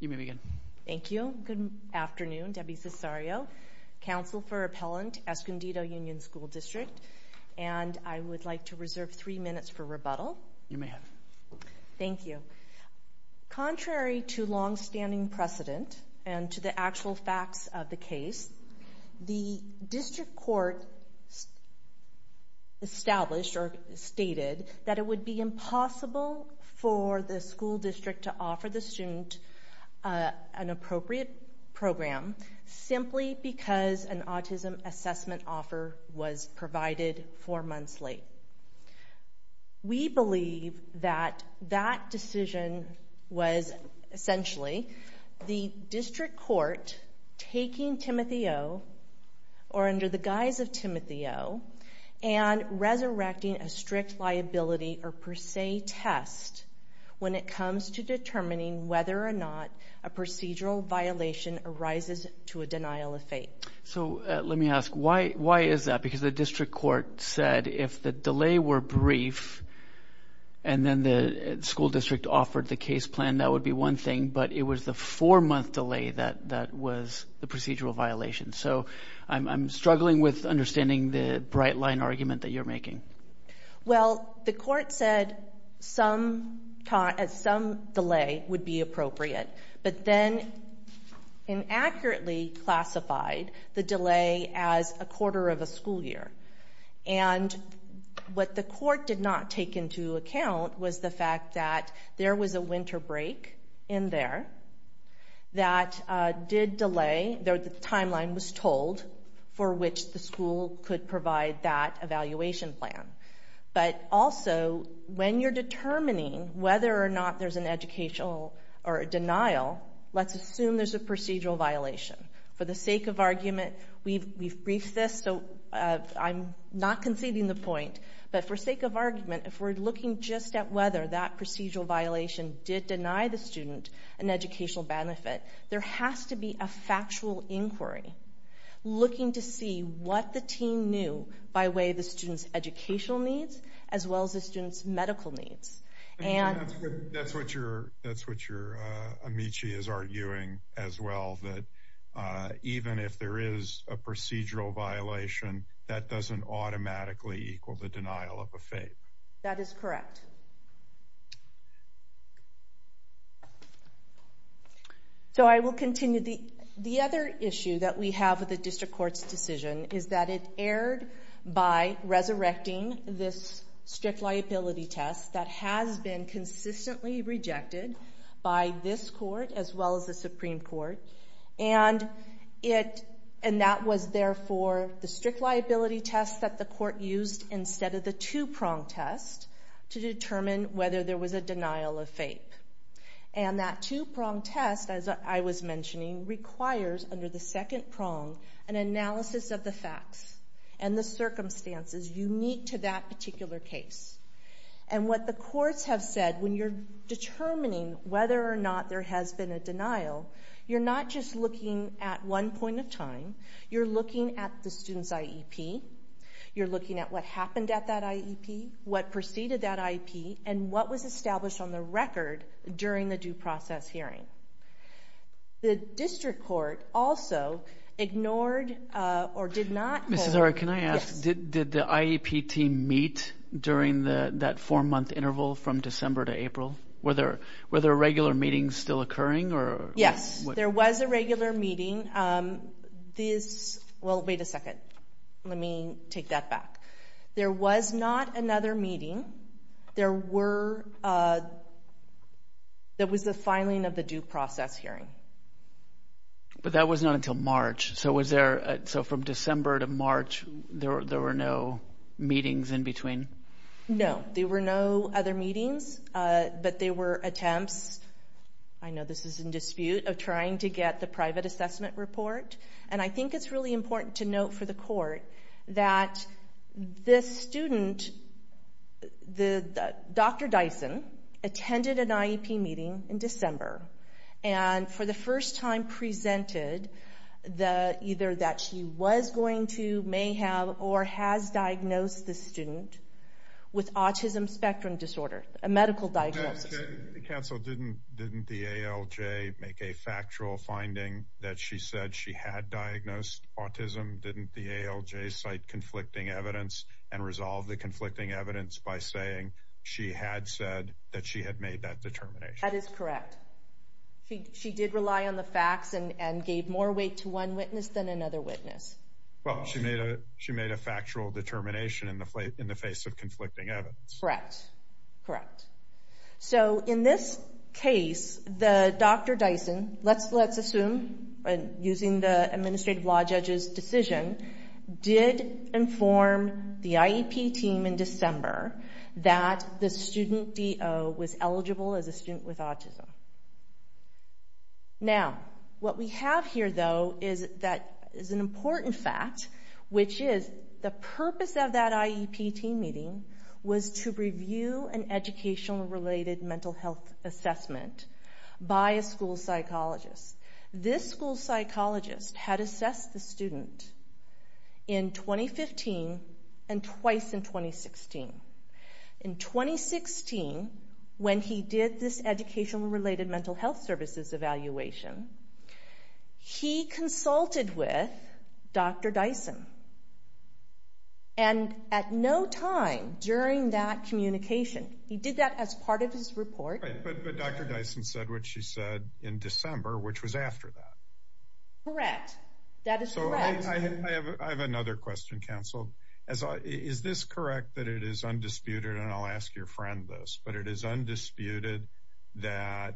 You may begin. Thank you. Good afternoon. Debbie Cesario, Counsel for Appellant, Escondido Union School District. And I would like to reserve three minutes for rebuttal. You may have. Thank you. Contrary to longstanding precedent and to the actual facts of the case, the district court established or stated that it would be impossible for the school district to offer the student an appropriate program simply because an autism assessment offer was provided four months late. We believe that that decision was essentially the district court taking Timothy O. or under the guise of Timothy O. and resurrecting a strict liability or per se test when it comes to determining whether or not a procedural violation arises to a denial of fate. So let me ask, why is that? Because the district court said if the delay were brief and then the school district offered the case plan, that would be one thing, but it was the four-month delay that was the procedural violation. So I'm struggling with understanding the bright-line argument that you're making. Well, the court said some delay would be appropriate, but then inaccurately classified the delay as a quarter of a school year. And what the court did not take into account was the fact that there was a winter break in there that did delay, the timeline was told, for which the school could provide that evaluation plan. But also, when you're determining whether or not there's an educational or a denial, let's assume there's a procedural violation. For the sake of argument, we've briefed this, so I'm not conceding the point, but for sake of argument, if we're looking just at whether that procedural violation did deny the student an educational benefit, there has to be a factual inquiry looking to see what the teen knew by way of the student's educational needs as well as the student's medical needs. And that's what your amici is arguing as well, that even if there is a procedural violation, that doesn't automatically equal the denial of a fate. That is correct. So I will continue. The other issue that we have with the district court's decision is that it erred by resurrecting this strict liability test that has been consistently rejected by this court as well as the Supreme Court, and that was therefore the strict liability test that the court used instead of the two-prong test to determine whether there was a denial of fate. And that two-prong test, as I was mentioning, requires under the second prong an analysis of the facts and the circumstances unique to that particular case. And what the courts have said, when you're determining whether or not there has been a denial, you're not just looking at one point of time. You're looking at the student's IEP. You're looking at what happened at that IEP, what preceded that IEP, and what was established on the record during the due process hearing. The district court also ignored or did not hold... Ms. Zara, can I ask, did the IEP team meet during that four-month interval from December to April? Were there regular meetings still occurring? Yes, there was a regular meeting. Well, wait a second. Let me take that back. There was not another meeting. There was the filing of the due process hearing. But that was not until March. So from December to March there were no meetings in between? No, there were no other meetings. But there were attempts, I know this is in dispute, of trying to get the private assessment report. And I think it's really important to note for the court that this student, Dr. Dyson, attended an IEP meeting in December and for the first time presented either that she was going to, may have, or has diagnosed this student with autism spectrum disorder, a medical diagnosis. Counsel, didn't the ALJ make a factual finding that she said she had diagnosed autism? Didn't the ALJ cite conflicting evidence and resolve the conflicting evidence by saying she had said that she had made that determination? That is correct. She did rely on the facts and gave more weight to one witness than another witness. Well, she made a factual determination in the face of conflicting evidence. Correct, correct. So in this case, the Dr. Dyson, let's assume using the administrative law judge's decision, did inform the IEP team in December that the student DO was eligible as a student with autism. Now, what we have here, though, is an important fact, which is the purpose of that IEP team meeting was to review an educational-related mental health assessment by a school psychologist. This school psychologist had assessed the student in 2015 and twice in 2016. In 2016, when he did this educational-related mental health services evaluation, he consulted with Dr. Dyson. And at no time during that communication, he did that as part of his report. But Dr. Dyson said what she said in December, which was after that. Correct. That is correct. I have another question, counsel. Is this correct that it is undisputed, and I'll ask your friend this, but it is undisputed that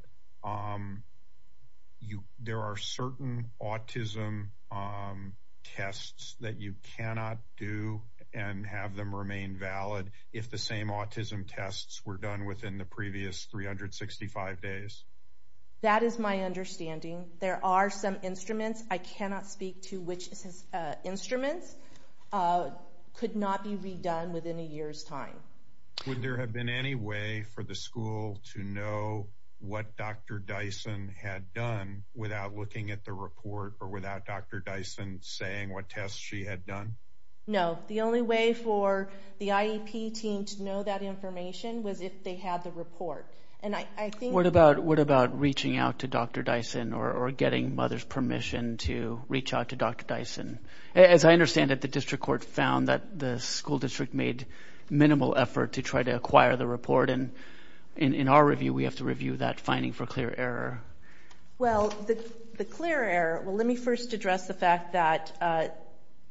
there are certain autism tests that you cannot do and have them remain valid if the same autism tests were done within the previous 365 days? That is my understanding. There are some instruments. I cannot speak to which instruments. They could not be redone within a year's time. Would there have been any way for the school to know what Dr. Dyson had done without looking at the report or without Dr. Dyson saying what tests she had done? No. The only way for the IEP team to know that information was if they had the report. What about reaching out to Dr. Dyson or getting mother's permission to reach out to Dr. Dyson? As I understand it, the district court found that the school district made minimal effort to try to acquire the report, and in our review we have to review that finding for clear error. Well, the clear error, well, let me first address the fact that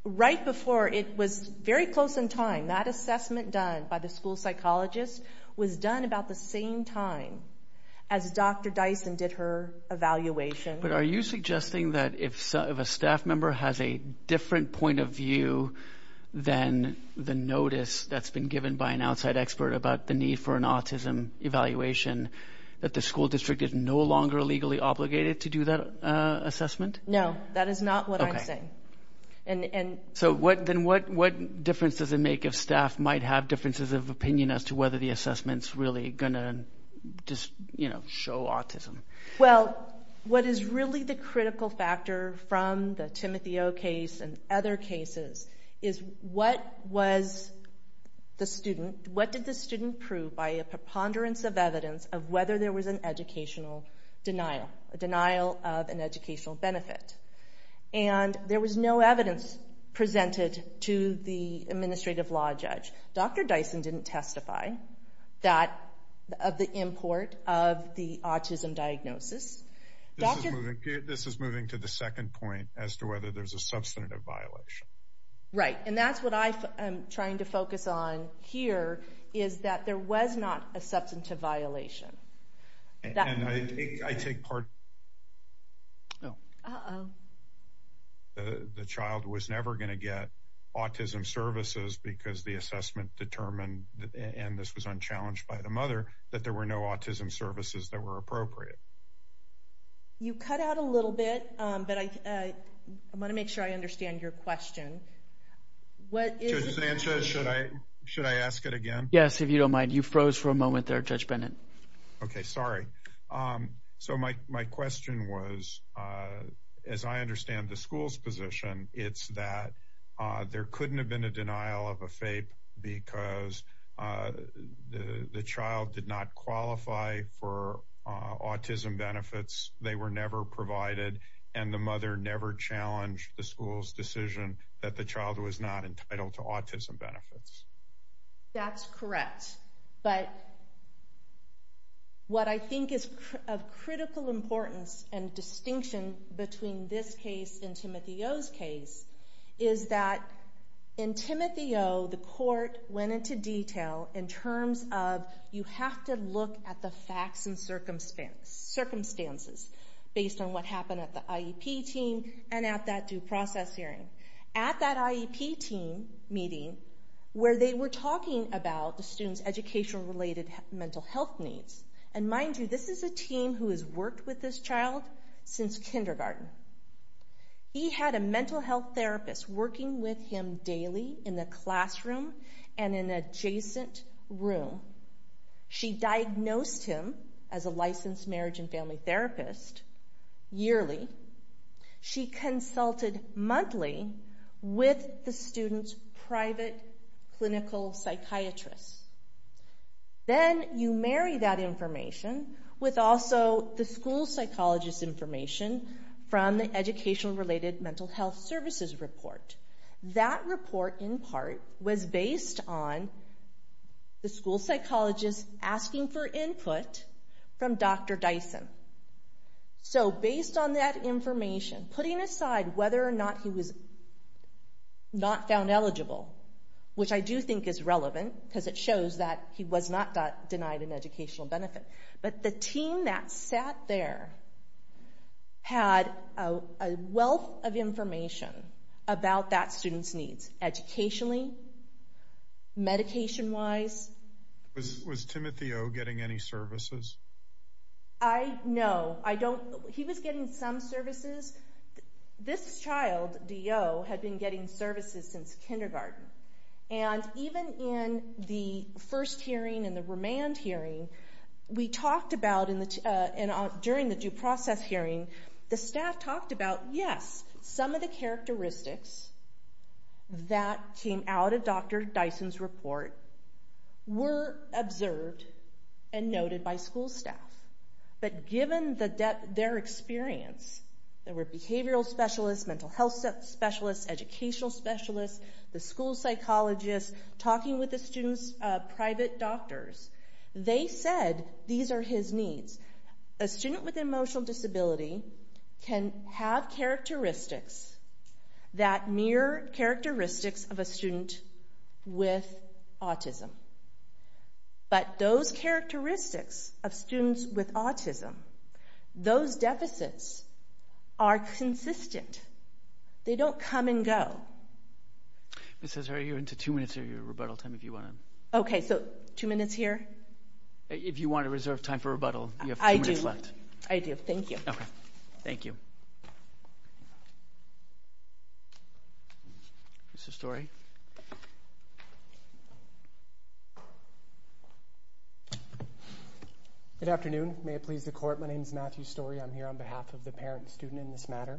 right before it was very close in time, that assessment done by the school psychologist was done about the same time as Dr. Dyson did her evaluation. But are you suggesting that if a staff member has a different point of view than the notice that's been given by an outside expert about the need for an autism evaluation, that the school district is no longer legally obligated to do that assessment? No, that is not what I'm saying. So then what difference does it make if staff might have differences of opinion as to whether the assessment's really going to show autism? Well, what is really the critical factor from the Timotheo case and other cases is what did the student prove by a preponderance of evidence of whether there was an educational denial, a denial of an educational benefit? And there was no evidence presented to the administrative law judge. Dr. Dyson didn't testify of the import of the autism diagnosis. This is moving to the second point as to whether there's a substantive violation. Right, and that's what I'm trying to focus on here is that there was not a substantive violation. And I take part... Uh-oh. The child was never going to get autism services because the assessment determined, and this was unchallenged by the mother, that there were no autism services that were appropriate. You cut out a little bit, but I want to make sure I understand your question. Judge Sanchez, should I ask it again? Yes, if you don't mind. You froze for a moment there, Judge Bennett. Okay, sorry. So my question was, as I understand the school's position, it's that there couldn't have been a denial of a FAPE because the child did not qualify for autism benefits, they were never provided, and the mother never challenged the school's decision that the child was not entitled to autism benefits. That's correct. But what I think is of critical importance and distinction between this case and Timothy O's case is that in Timothy O, the court went into detail in terms of you have to look at the facts and circumstances based on what happened at the IEP team and at that due process hearing. At that IEP team meeting, where they were talking about the student's educational-related mental health needs, and mind you, this is a team who has worked with this child since kindergarten. He had a mental health therapist working with him daily in the classroom and in an adjacent room. She diagnosed him as a licensed marriage and family therapist yearly. She consulted monthly with the student's private clinical psychiatrist. Then you marry that information with also the school psychologist's information from the educational-related mental health services report. That report, in part, was based on the school psychologist asking for input from Dr. Dyson. So based on that information, putting aside whether or not he was not found eligible, which I do think is relevant because it shows that he was not denied an educational benefit, but the team that sat there had a wealth of information about that student's needs educationally, medication-wise. Was Timothy O getting any services? No. He was getting some services. This child, D.O., had been getting services since kindergarten. And even in the first hearing and the remand hearing, we talked about during the due process hearing, the staff talked about, yes, some of the characteristics that came out of Dr. Dyson's report were observed and noted by school staff. But given their experience, there were behavioral specialists, mental health specialists, educational specialists, the school psychologist, talking with the student's private doctors, they said these are his needs. A student with an emotional disability can have characteristics that mirror characteristics of a student with autism. But those characteristics of students with autism, those deficits are consistent. They don't come and go. Ms. Hazard, you're into two minutes of your rebuttal time. Okay, so two minutes here? If you want to reserve time for rebuttal, you have two minutes left. I do. Thank you. Thank you. Mr. Story? Good afternoon. May it please the Court, my name is Matthew Story. I'm here on behalf of the parent and student in this matter.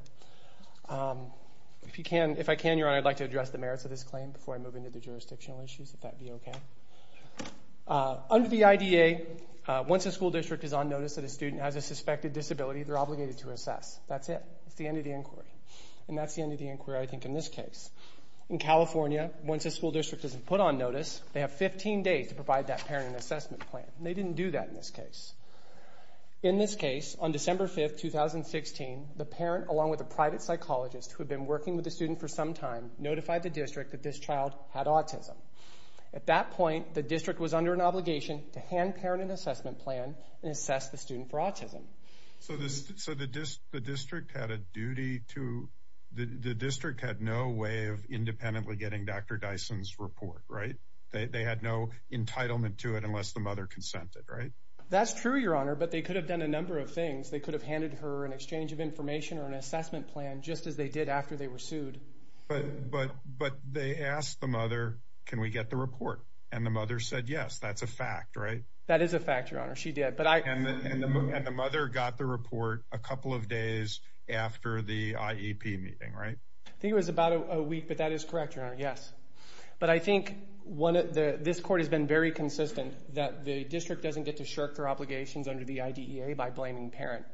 If I can, Your Honor, I'd like to address the merits of this claim before I move into the jurisdictional issues, if that would be okay. Under the IDA, once a school district is on notice that a student has a suspected disability, they're obligated to assess. That's it. It's the end of the inquiry. And that's the end of the inquiry, I think, in this case. In California, once a school district is put on notice, they have 15 days to provide that parent and assessment plan. They didn't do that in this case. In this case, on December 5, 2016, the parent, along with a private psychologist who had been working with the student for some time, notified the district that this child had autism. At that point, the district was under an obligation to hand parent an assessment plan and assess the student for autism. So the district had a duty to... The district had no way of independently getting Dr. Dyson's report, right? They had no entitlement to it unless the mother consented, right? That's true, Your Honor, but they could have done a number of things. They could have handed her an exchange of information or an assessment plan, just as they did after they were sued. But they asked the mother, can we get the report? And the mother said, yes, that's a fact, right? That is a fact, Your Honor. She did. And the mother got the report a couple of days after the IEP meeting, right? I think it was about a week, but that is correct, Your Honor, yes. But I think this court has been very consistent that the district doesn't get to shirk their obligations under the IDEA by blaming parent.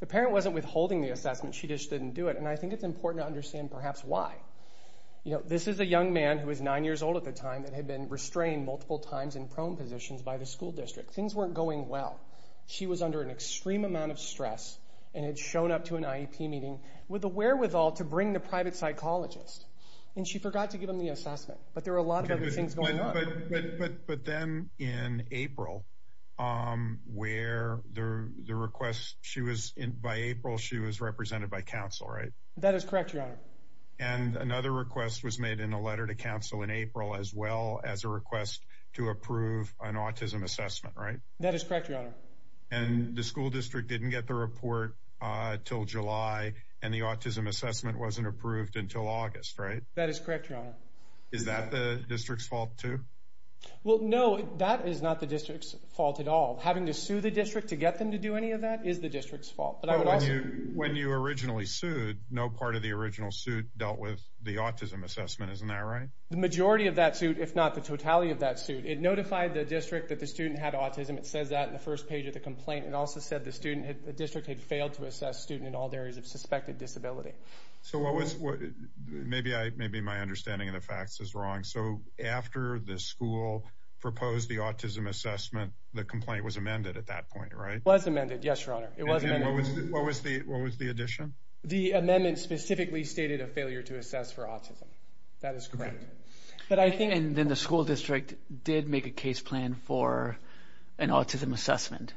The parent wasn't withholding the assessment. She just didn't do it, and I think it's important to understand perhaps why. You know, this is a young man who was 9 years old at the time that had been restrained multiple times in prone positions by the school district. Things weren't going well. She was under an extreme amount of stress and had shown up to an IEP meeting with a wherewithal to bring the private psychologist, and she forgot to give him the assessment. But there were a lot of other things going on. But then in April, where the request, by April she was represented by counsel, right? That is correct, Your Honor. And another request was made in a letter to counsel in April as well as a request to approve an autism assessment, right? That is correct, Your Honor. And the school district didn't get the report until July, and the autism assessment wasn't approved until August, right? That is correct, Your Honor. Is that the district's fault too? Well, no, that is not the district's fault at all. Having to sue the district to get them to do any of that is the district's fault. But when you originally sued, no part of the original suit dealt with the autism assessment. Isn't that right? The majority of that suit, if not the totality of that suit, it notified the district that the student had autism. It says that in the first page of the complaint. It also said the district had failed to assess student in all areas of suspected disability. So maybe my understanding of the facts is wrong. So after the school proposed the autism assessment, the complaint was amended at that point, right? It was amended, yes, Your Honor. What was the addition? The amendment specifically stated a failure to assess for autism. That is correct. And then the school district did make a case plan for an autism assessment.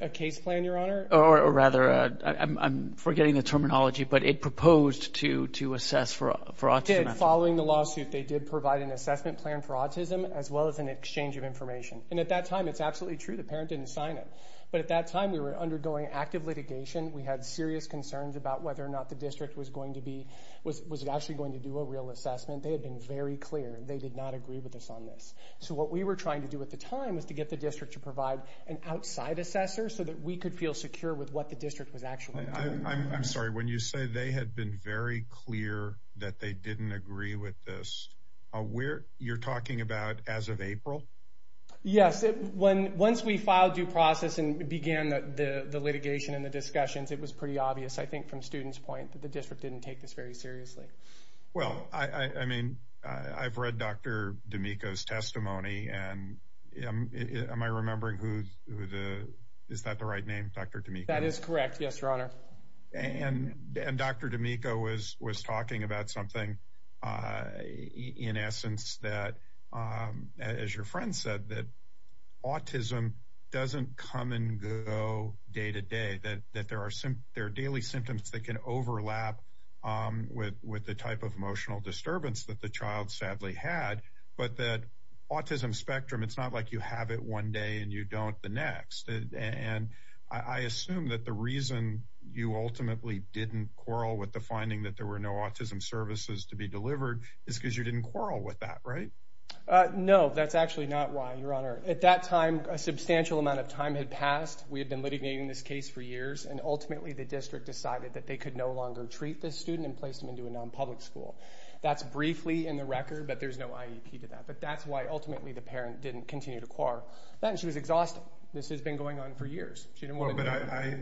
A case plan, Your Honor? Or rather, I'm forgetting the terminology, but it proposed to assess for autism. It did. Following the lawsuit, they did provide an assessment plan for autism as well as an exchange of information. And at that time, it's absolutely true, the parent didn't sign it. But at that time, we were undergoing active litigation. We had serious concerns about whether or not the district was going to be, was it actually going to do a real assessment. They had been very clear. They did not agree with us on this. So what we were trying to do at the time was to get the district to provide an outside assessor so that we could feel secure with what the district was actually doing. I'm sorry, when you say they had been very clear that they didn't agree with this, you're talking about as of April? Yes, once we filed due process and began the litigation and the discussions, it was pretty obvious, I think, from students' point, that the district didn't take this very seriously. Well, I mean, I've read Dr. D'Amico's testimony, and am I remembering who the, is that the right name, Dr. D'Amico? That is correct, yes, Your Honor. And Dr. D'Amico was talking about something, in essence, that, as your friend said, that autism doesn't come and go day to day, that there are daily symptoms that can overlap with the type of emotional disturbance that the child sadly had, but that autism spectrum, it's not like you have it one day and you don't the next. And I assume that the reason you ultimately didn't quarrel with the finding that there were no autism services to be delivered is because you didn't quarrel with that, right? No, that's actually not why, Your Honor. At that time, a substantial amount of time had passed. We had been litigating this case for years, and ultimately the district decided that they could no longer treat this student and placed him into a non-public school. That's briefly in the record, but there's no IEP to that. But that's why ultimately the parent didn't continue to quarrel. She was exhausted. This has been going on for years. I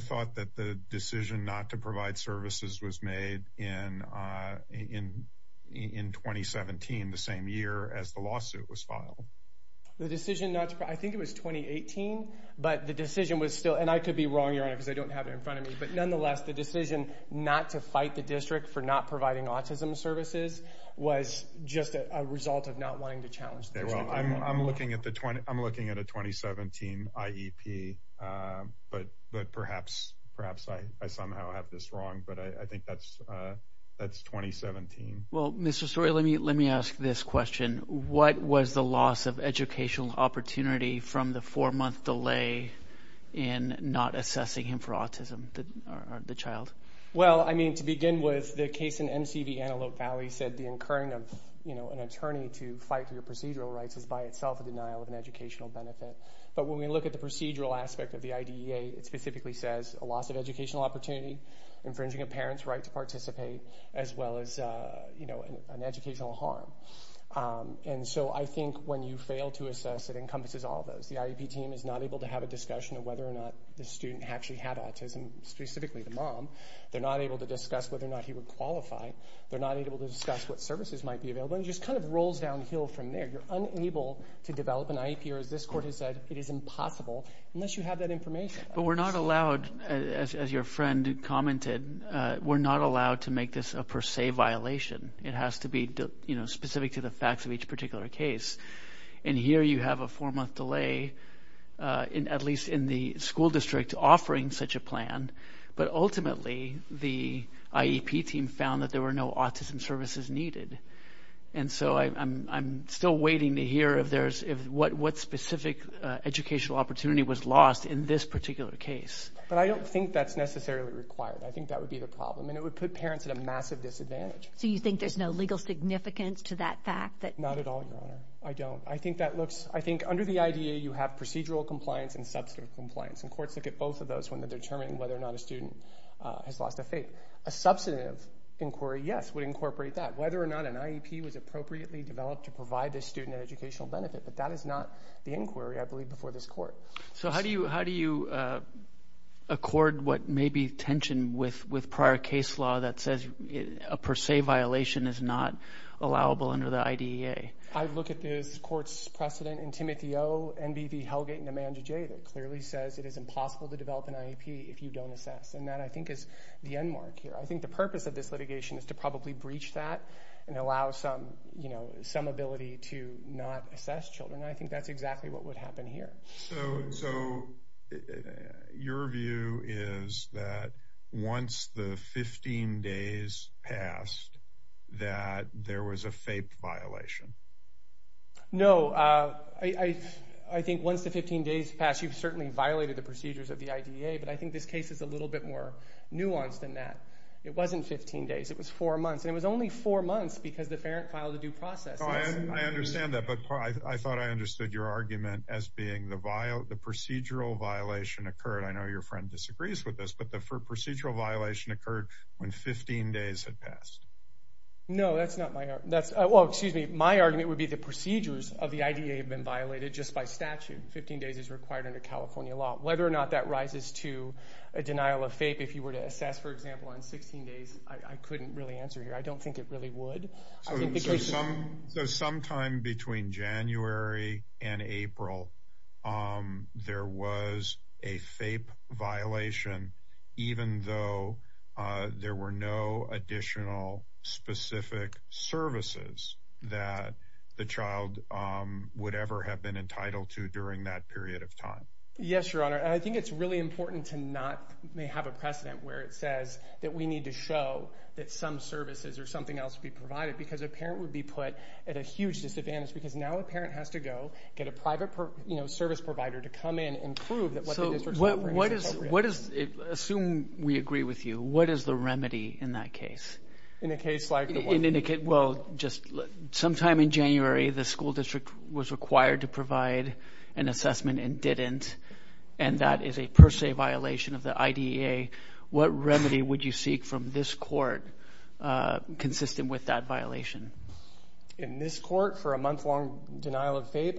thought that the decision not to provide services was made in 2017, the same year as the lawsuit was filed. The decision not to provide, I think it was 2018, but the decision was still, and I could be wrong, Your Honor, because I don't have it in front of me, but nonetheless the decision not to fight the district for not providing autism services was just a result of not wanting to challenge the district. I'm looking at a 2017 IEP, but perhaps I somehow have this wrong, but I think that's 2017. Well, Mr. Story, let me ask this question. What was the loss of educational opportunity from the four-month delay in not assessing him for autism, the child? Well, to begin with, the case in MCV Antelope Valley said the incurring of an attorney to fight for your procedural rights is by itself a denial of an educational benefit. But when we look at the procedural aspect of the IDEA, it specifically says a loss of educational opportunity, infringing a parent's right to participate, as well as an educational harm. And so I think when you fail to assess, it encompasses all of those. The IEP team is not able to have a discussion of whether or not the student actually had autism, specifically the mom. They're not able to discuss whether or not he would qualify. They're not able to discuss what services might be available. It just kind of rolls downhill from there. You're unable to develop an IEP, or as this court has said, it is impossible unless you have that information. But we're not allowed, as your friend commented, we're not allowed to make this a per se violation. It has to be specific to the facts of each particular case. And here you have a four-month delay, at least in the school district, offering such a plan. But ultimately the IEP team found that there were no autism services needed. And so I'm still waiting to hear what specific educational opportunity was lost in this particular case. But I don't think that's necessarily required. I think that would be the problem. And it would put parents at a massive disadvantage. So you think there's no legal significance to that fact? Not at all, Your Honor. I don't. I think under the IDEA you have procedural compliance and substantive compliance. And courts look at both of those when they're determining whether or not a student has lost a faith. A substantive inquiry, yes, would incorporate that. Whether or not an IEP was appropriately developed to provide this student an educational benefit. But that is not the inquiry, I believe, before this court. So how do you accord what may be tension with prior case law that says a per se violation is not allowable under the IDEA? I look at this court's precedent in Timothy O., NBV, Hellgate, and Amanda J. that clearly says it is impossible to develop an IEP if you don't assess. And that, I think, is the end mark here. I think the purpose of this litigation is to probably breach that and allow some ability to not assess children. And I think that's exactly what would happen here. So your view is that once the 15 days passed that there was a faith violation? No. I think once the 15 days passed, you've certainly violated the procedures of the IDEA. But I think this case is a little bit more nuanced than that. It wasn't 15 days. It was 4 months. And it was only 4 months because the parent filed a due process. I understand that, but I thought I understood your argument as being the procedural violation occurred. I know your friend disagrees with this, but the procedural violation occurred when 15 days had passed. No, that's not my argument. Well, excuse me, my argument would be the procedures of the IDEA have been violated just by statute. 15 days is required under California law. Whether or not that rises to a denial of faith, if you were to assess, for example, on 16 days, I couldn't really answer here. I don't think it really would. So sometime between January and April, there was a faith violation even though there were no additional specific services that the child would ever have been entitled to during that period of time? Yes, Your Honor. I think it's really important to not have a precedent where it says that we need to show that some services or something else would be provided because a parent would be put at a huge disadvantage because now a parent has to go get a private service provider to come in and prove that what the district's offering is appropriate. Assume we agree with you. What is the remedy in that case? In a case like the one... Well, just sometime in January, the school district was required to provide an assessment and didn't, and that is a per se violation of the IDEA. What remedy would you seek from this court consistent with that violation? In this court, for a month-long denial of faith,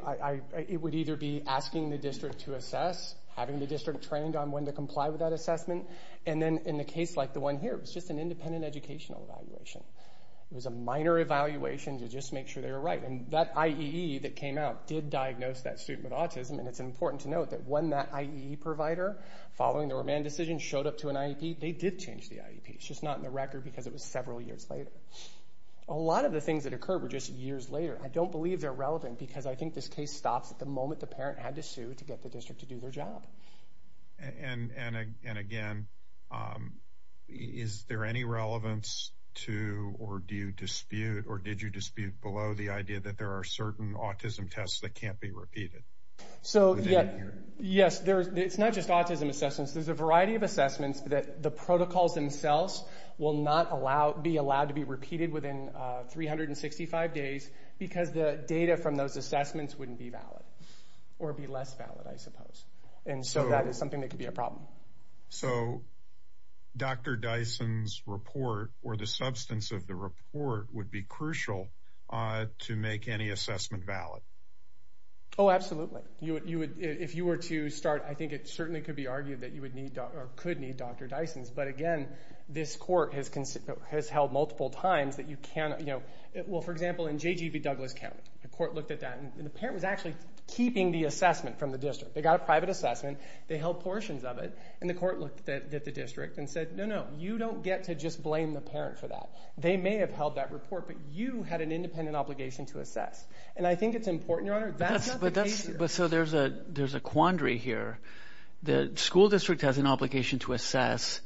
it would either be asking the district to assess, having the district trained on when to comply with that assessment, and then in a case like the one here, it was just an independent educational evaluation. It was a minor evaluation to just make sure they were right, and that IEE that came out did diagnose that student with autism, and it's important to note that when that IEE provider, following the remand decision, showed up to an IEP, they did change the IEP. It's just not in the record because it was several years later. A lot of the things that occurred were just years later. I don't believe they're relevant because I think this case stops at the moment the parent had to sue to get the district to do their job. And again, is there any relevance to, or do you dispute, or did you dispute below the idea that there are certain autism tests that can't be repeated? Yes, it's not just autism assessments. There's a variety of assessments that the protocols themselves will not be allowed to be repeated within 365 days because the data from those assessments wouldn't be valid, or be less valid, I suppose. And so that is something that could be a problem. So Dr. Dyson's report, or the substance of the report, would be crucial to make any assessment valid? Oh, absolutely. If you were to start, I think it certainly could be argued that you could need Dr. Dyson's. But again, this court has held multiple times that you cannot... Well, for example, in J.G.B. Douglas County, the court looked at that, and the parent was actually keeping the assessment from the district. They got a private assessment, they held portions of it, and the court looked at the district and said, no, no, you don't get to just blame the parent for that. They may have held that report, but you had an independent obligation to assess. And I think it's important, Your Honor, that's not the case here. But so there's a quandary here. The school district has an obligation to assess,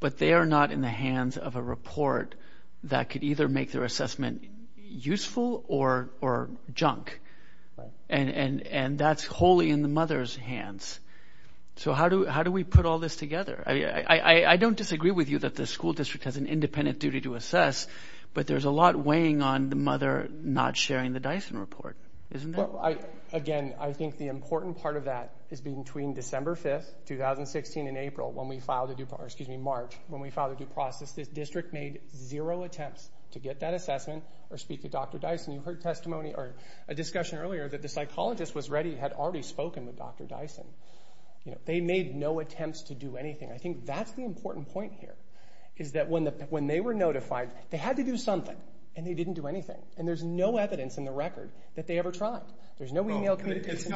but they are not in the hands of a report that could either make their assessment useful or junk. And that's wholly in the mother's hands. So how do we put all this together? I don't disagree with you that the school district has an independent duty to assess, but there's a lot weighing on the mother not sharing the Dyson report, isn't there? Again, I think the important part of that is between December 5, 2016, and April, when we filed the due process, excuse me, March, when we filed the due process, the district made zero attempts to get that assessment or speak to Dr. Dyson. You heard testimony or a discussion earlier that the psychologist was ready, had already spoken with Dr. Dyson. They made no attempts to do anything. I think that's the important point here, is that when they were notified, they had to do something, and they didn't do anything. And there's no evidence in the record that they ever tried. There's no email communication.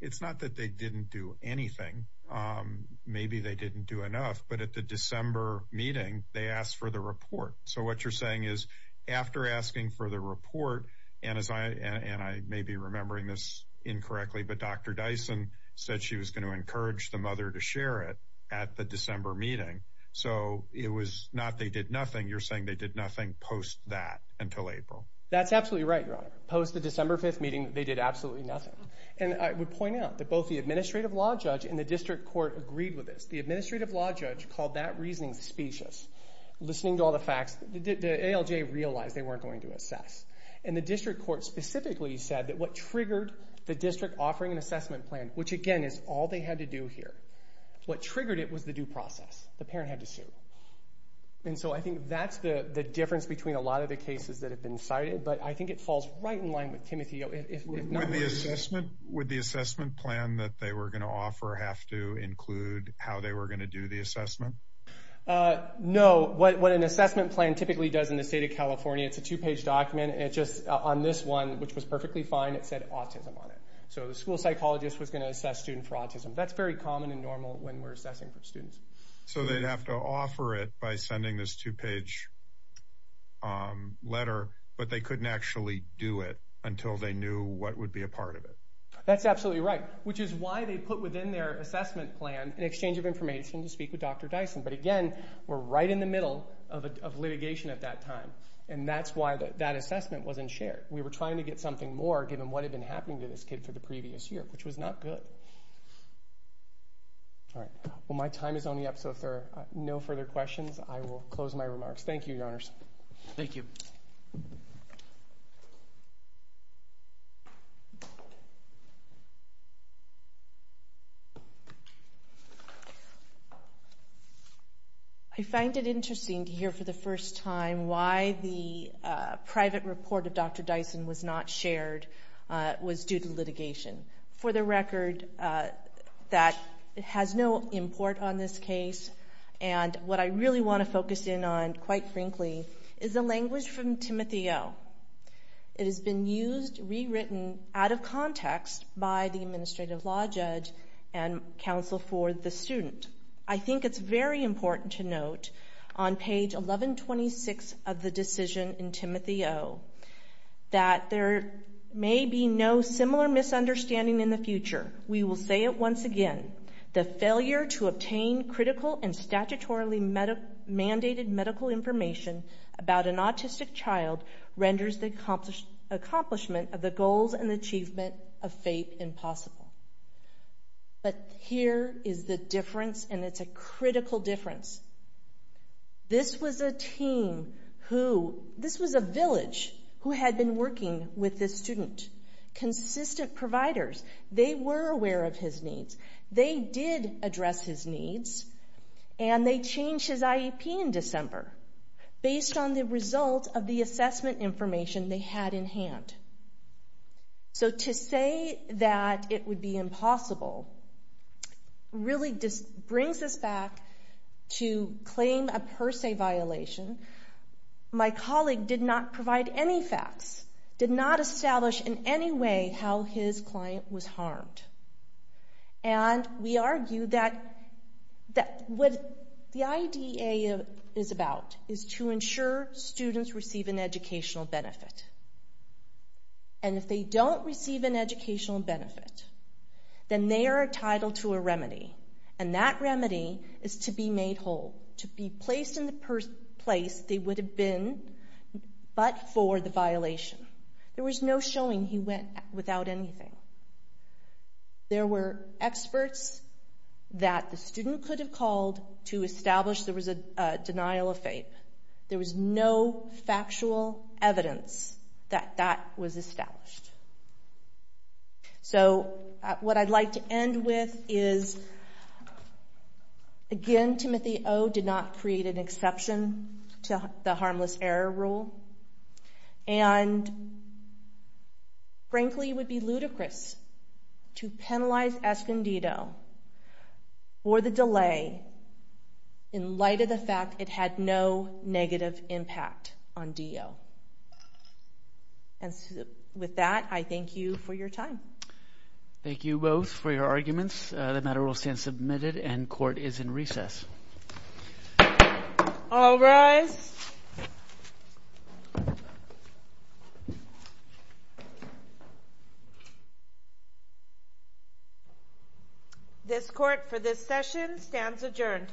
It's not that they didn't do anything. Maybe they didn't do enough, but at the December meeting, they asked for the report. So what you're saying is, after asking for the report, and I may be remembering this incorrectly, but Dr. Dyson said she was going to encourage the mother to share it at the December meeting. So it was not they did nothing. You're saying they did nothing post that until April. That's absolutely right, Your Honor. Post the December 5th meeting, they did absolutely nothing. And I would point out that both the administrative law judge and the district court agreed with this. The administrative law judge called that reasoning specious. Listening to all the facts, the ALJ realized they weren't going to assess. And the district court specifically said that what triggered the district offering an assessment plan, which again is all they had to do here, what triggered it was the due process. The parent had to sue. And so I think that's the difference between a lot of the cases that have been cited, but I think it falls right in line with Timothy. Would the assessment plan that they were going to offer have to include how they were going to do the assessment? No. What an assessment plan typically does in the state of California, it's a two-page document. On this one, which was perfectly fine, it said autism on it. So the school psychologist was going to assess students for autism. That's very common and normal when we're assessing for students. So they'd have to offer it by sending this two-page letter, but they couldn't actually do it until they knew what would be a part of it. That's absolutely right, which is why they put within their assessment plan an exchange of information to speak with Dr. Dyson. But again, we're right in the middle of litigation at that time, and that's why that assessment wasn't shared. We were trying to get something more given what had been happening to this kid for the previous year, which was not good. All right. Well, my time is only up, so if there are no further questions, I will close my remarks. Thank you, Your Honors. Thank you. I find it interesting to hear for the first time why the private report of Dr. Dyson was not shared was due to litigation. For the record, that has no import on this case, and what I really want to focus in on, quite frankly, is the language from Timothy O. It has been used, rewritten, out of context by the administrative law judge and counsel for the student. I think it's very important to note on page 1126 of the decision in Timothy O. that there may be no similar misunderstanding in the future. We will say it once again. But here is the difference, and it's a critical difference. This was a team who... This was a village who had been working with this student. Consistent providers. They were aware of his needs. They did address his needs, and they changed his IEP in December based on the results of the assessment information they had in hand. So to say that it would be impossible really just brings us back to claim a per se violation. My colleague did not provide any facts, did not establish in any way how his client was harmed, and we argue that what the IDA is about is to ensure students receive an educational benefit, and if they don't receive an educational benefit, then they are entitled to a remedy, and that remedy is to be made whole, to be placed in the place they would have been but for the violation. There was no showing he went without anything. There were experts that the student could have called to establish there was a denial of faith. There was no factual evidence that that was established. So what I'd like to end with is, again, Timothy O. did not create an exception to the harmless error rule, and frankly, it would be ludicrous to penalize Escondido for the delay in light of the fact it had no negative impact on D.O. And with that, I thank you for your time. Thank you both for your arguments. The matter will stand submitted, and court is in recess. All rise. This court for this session stands adjourned.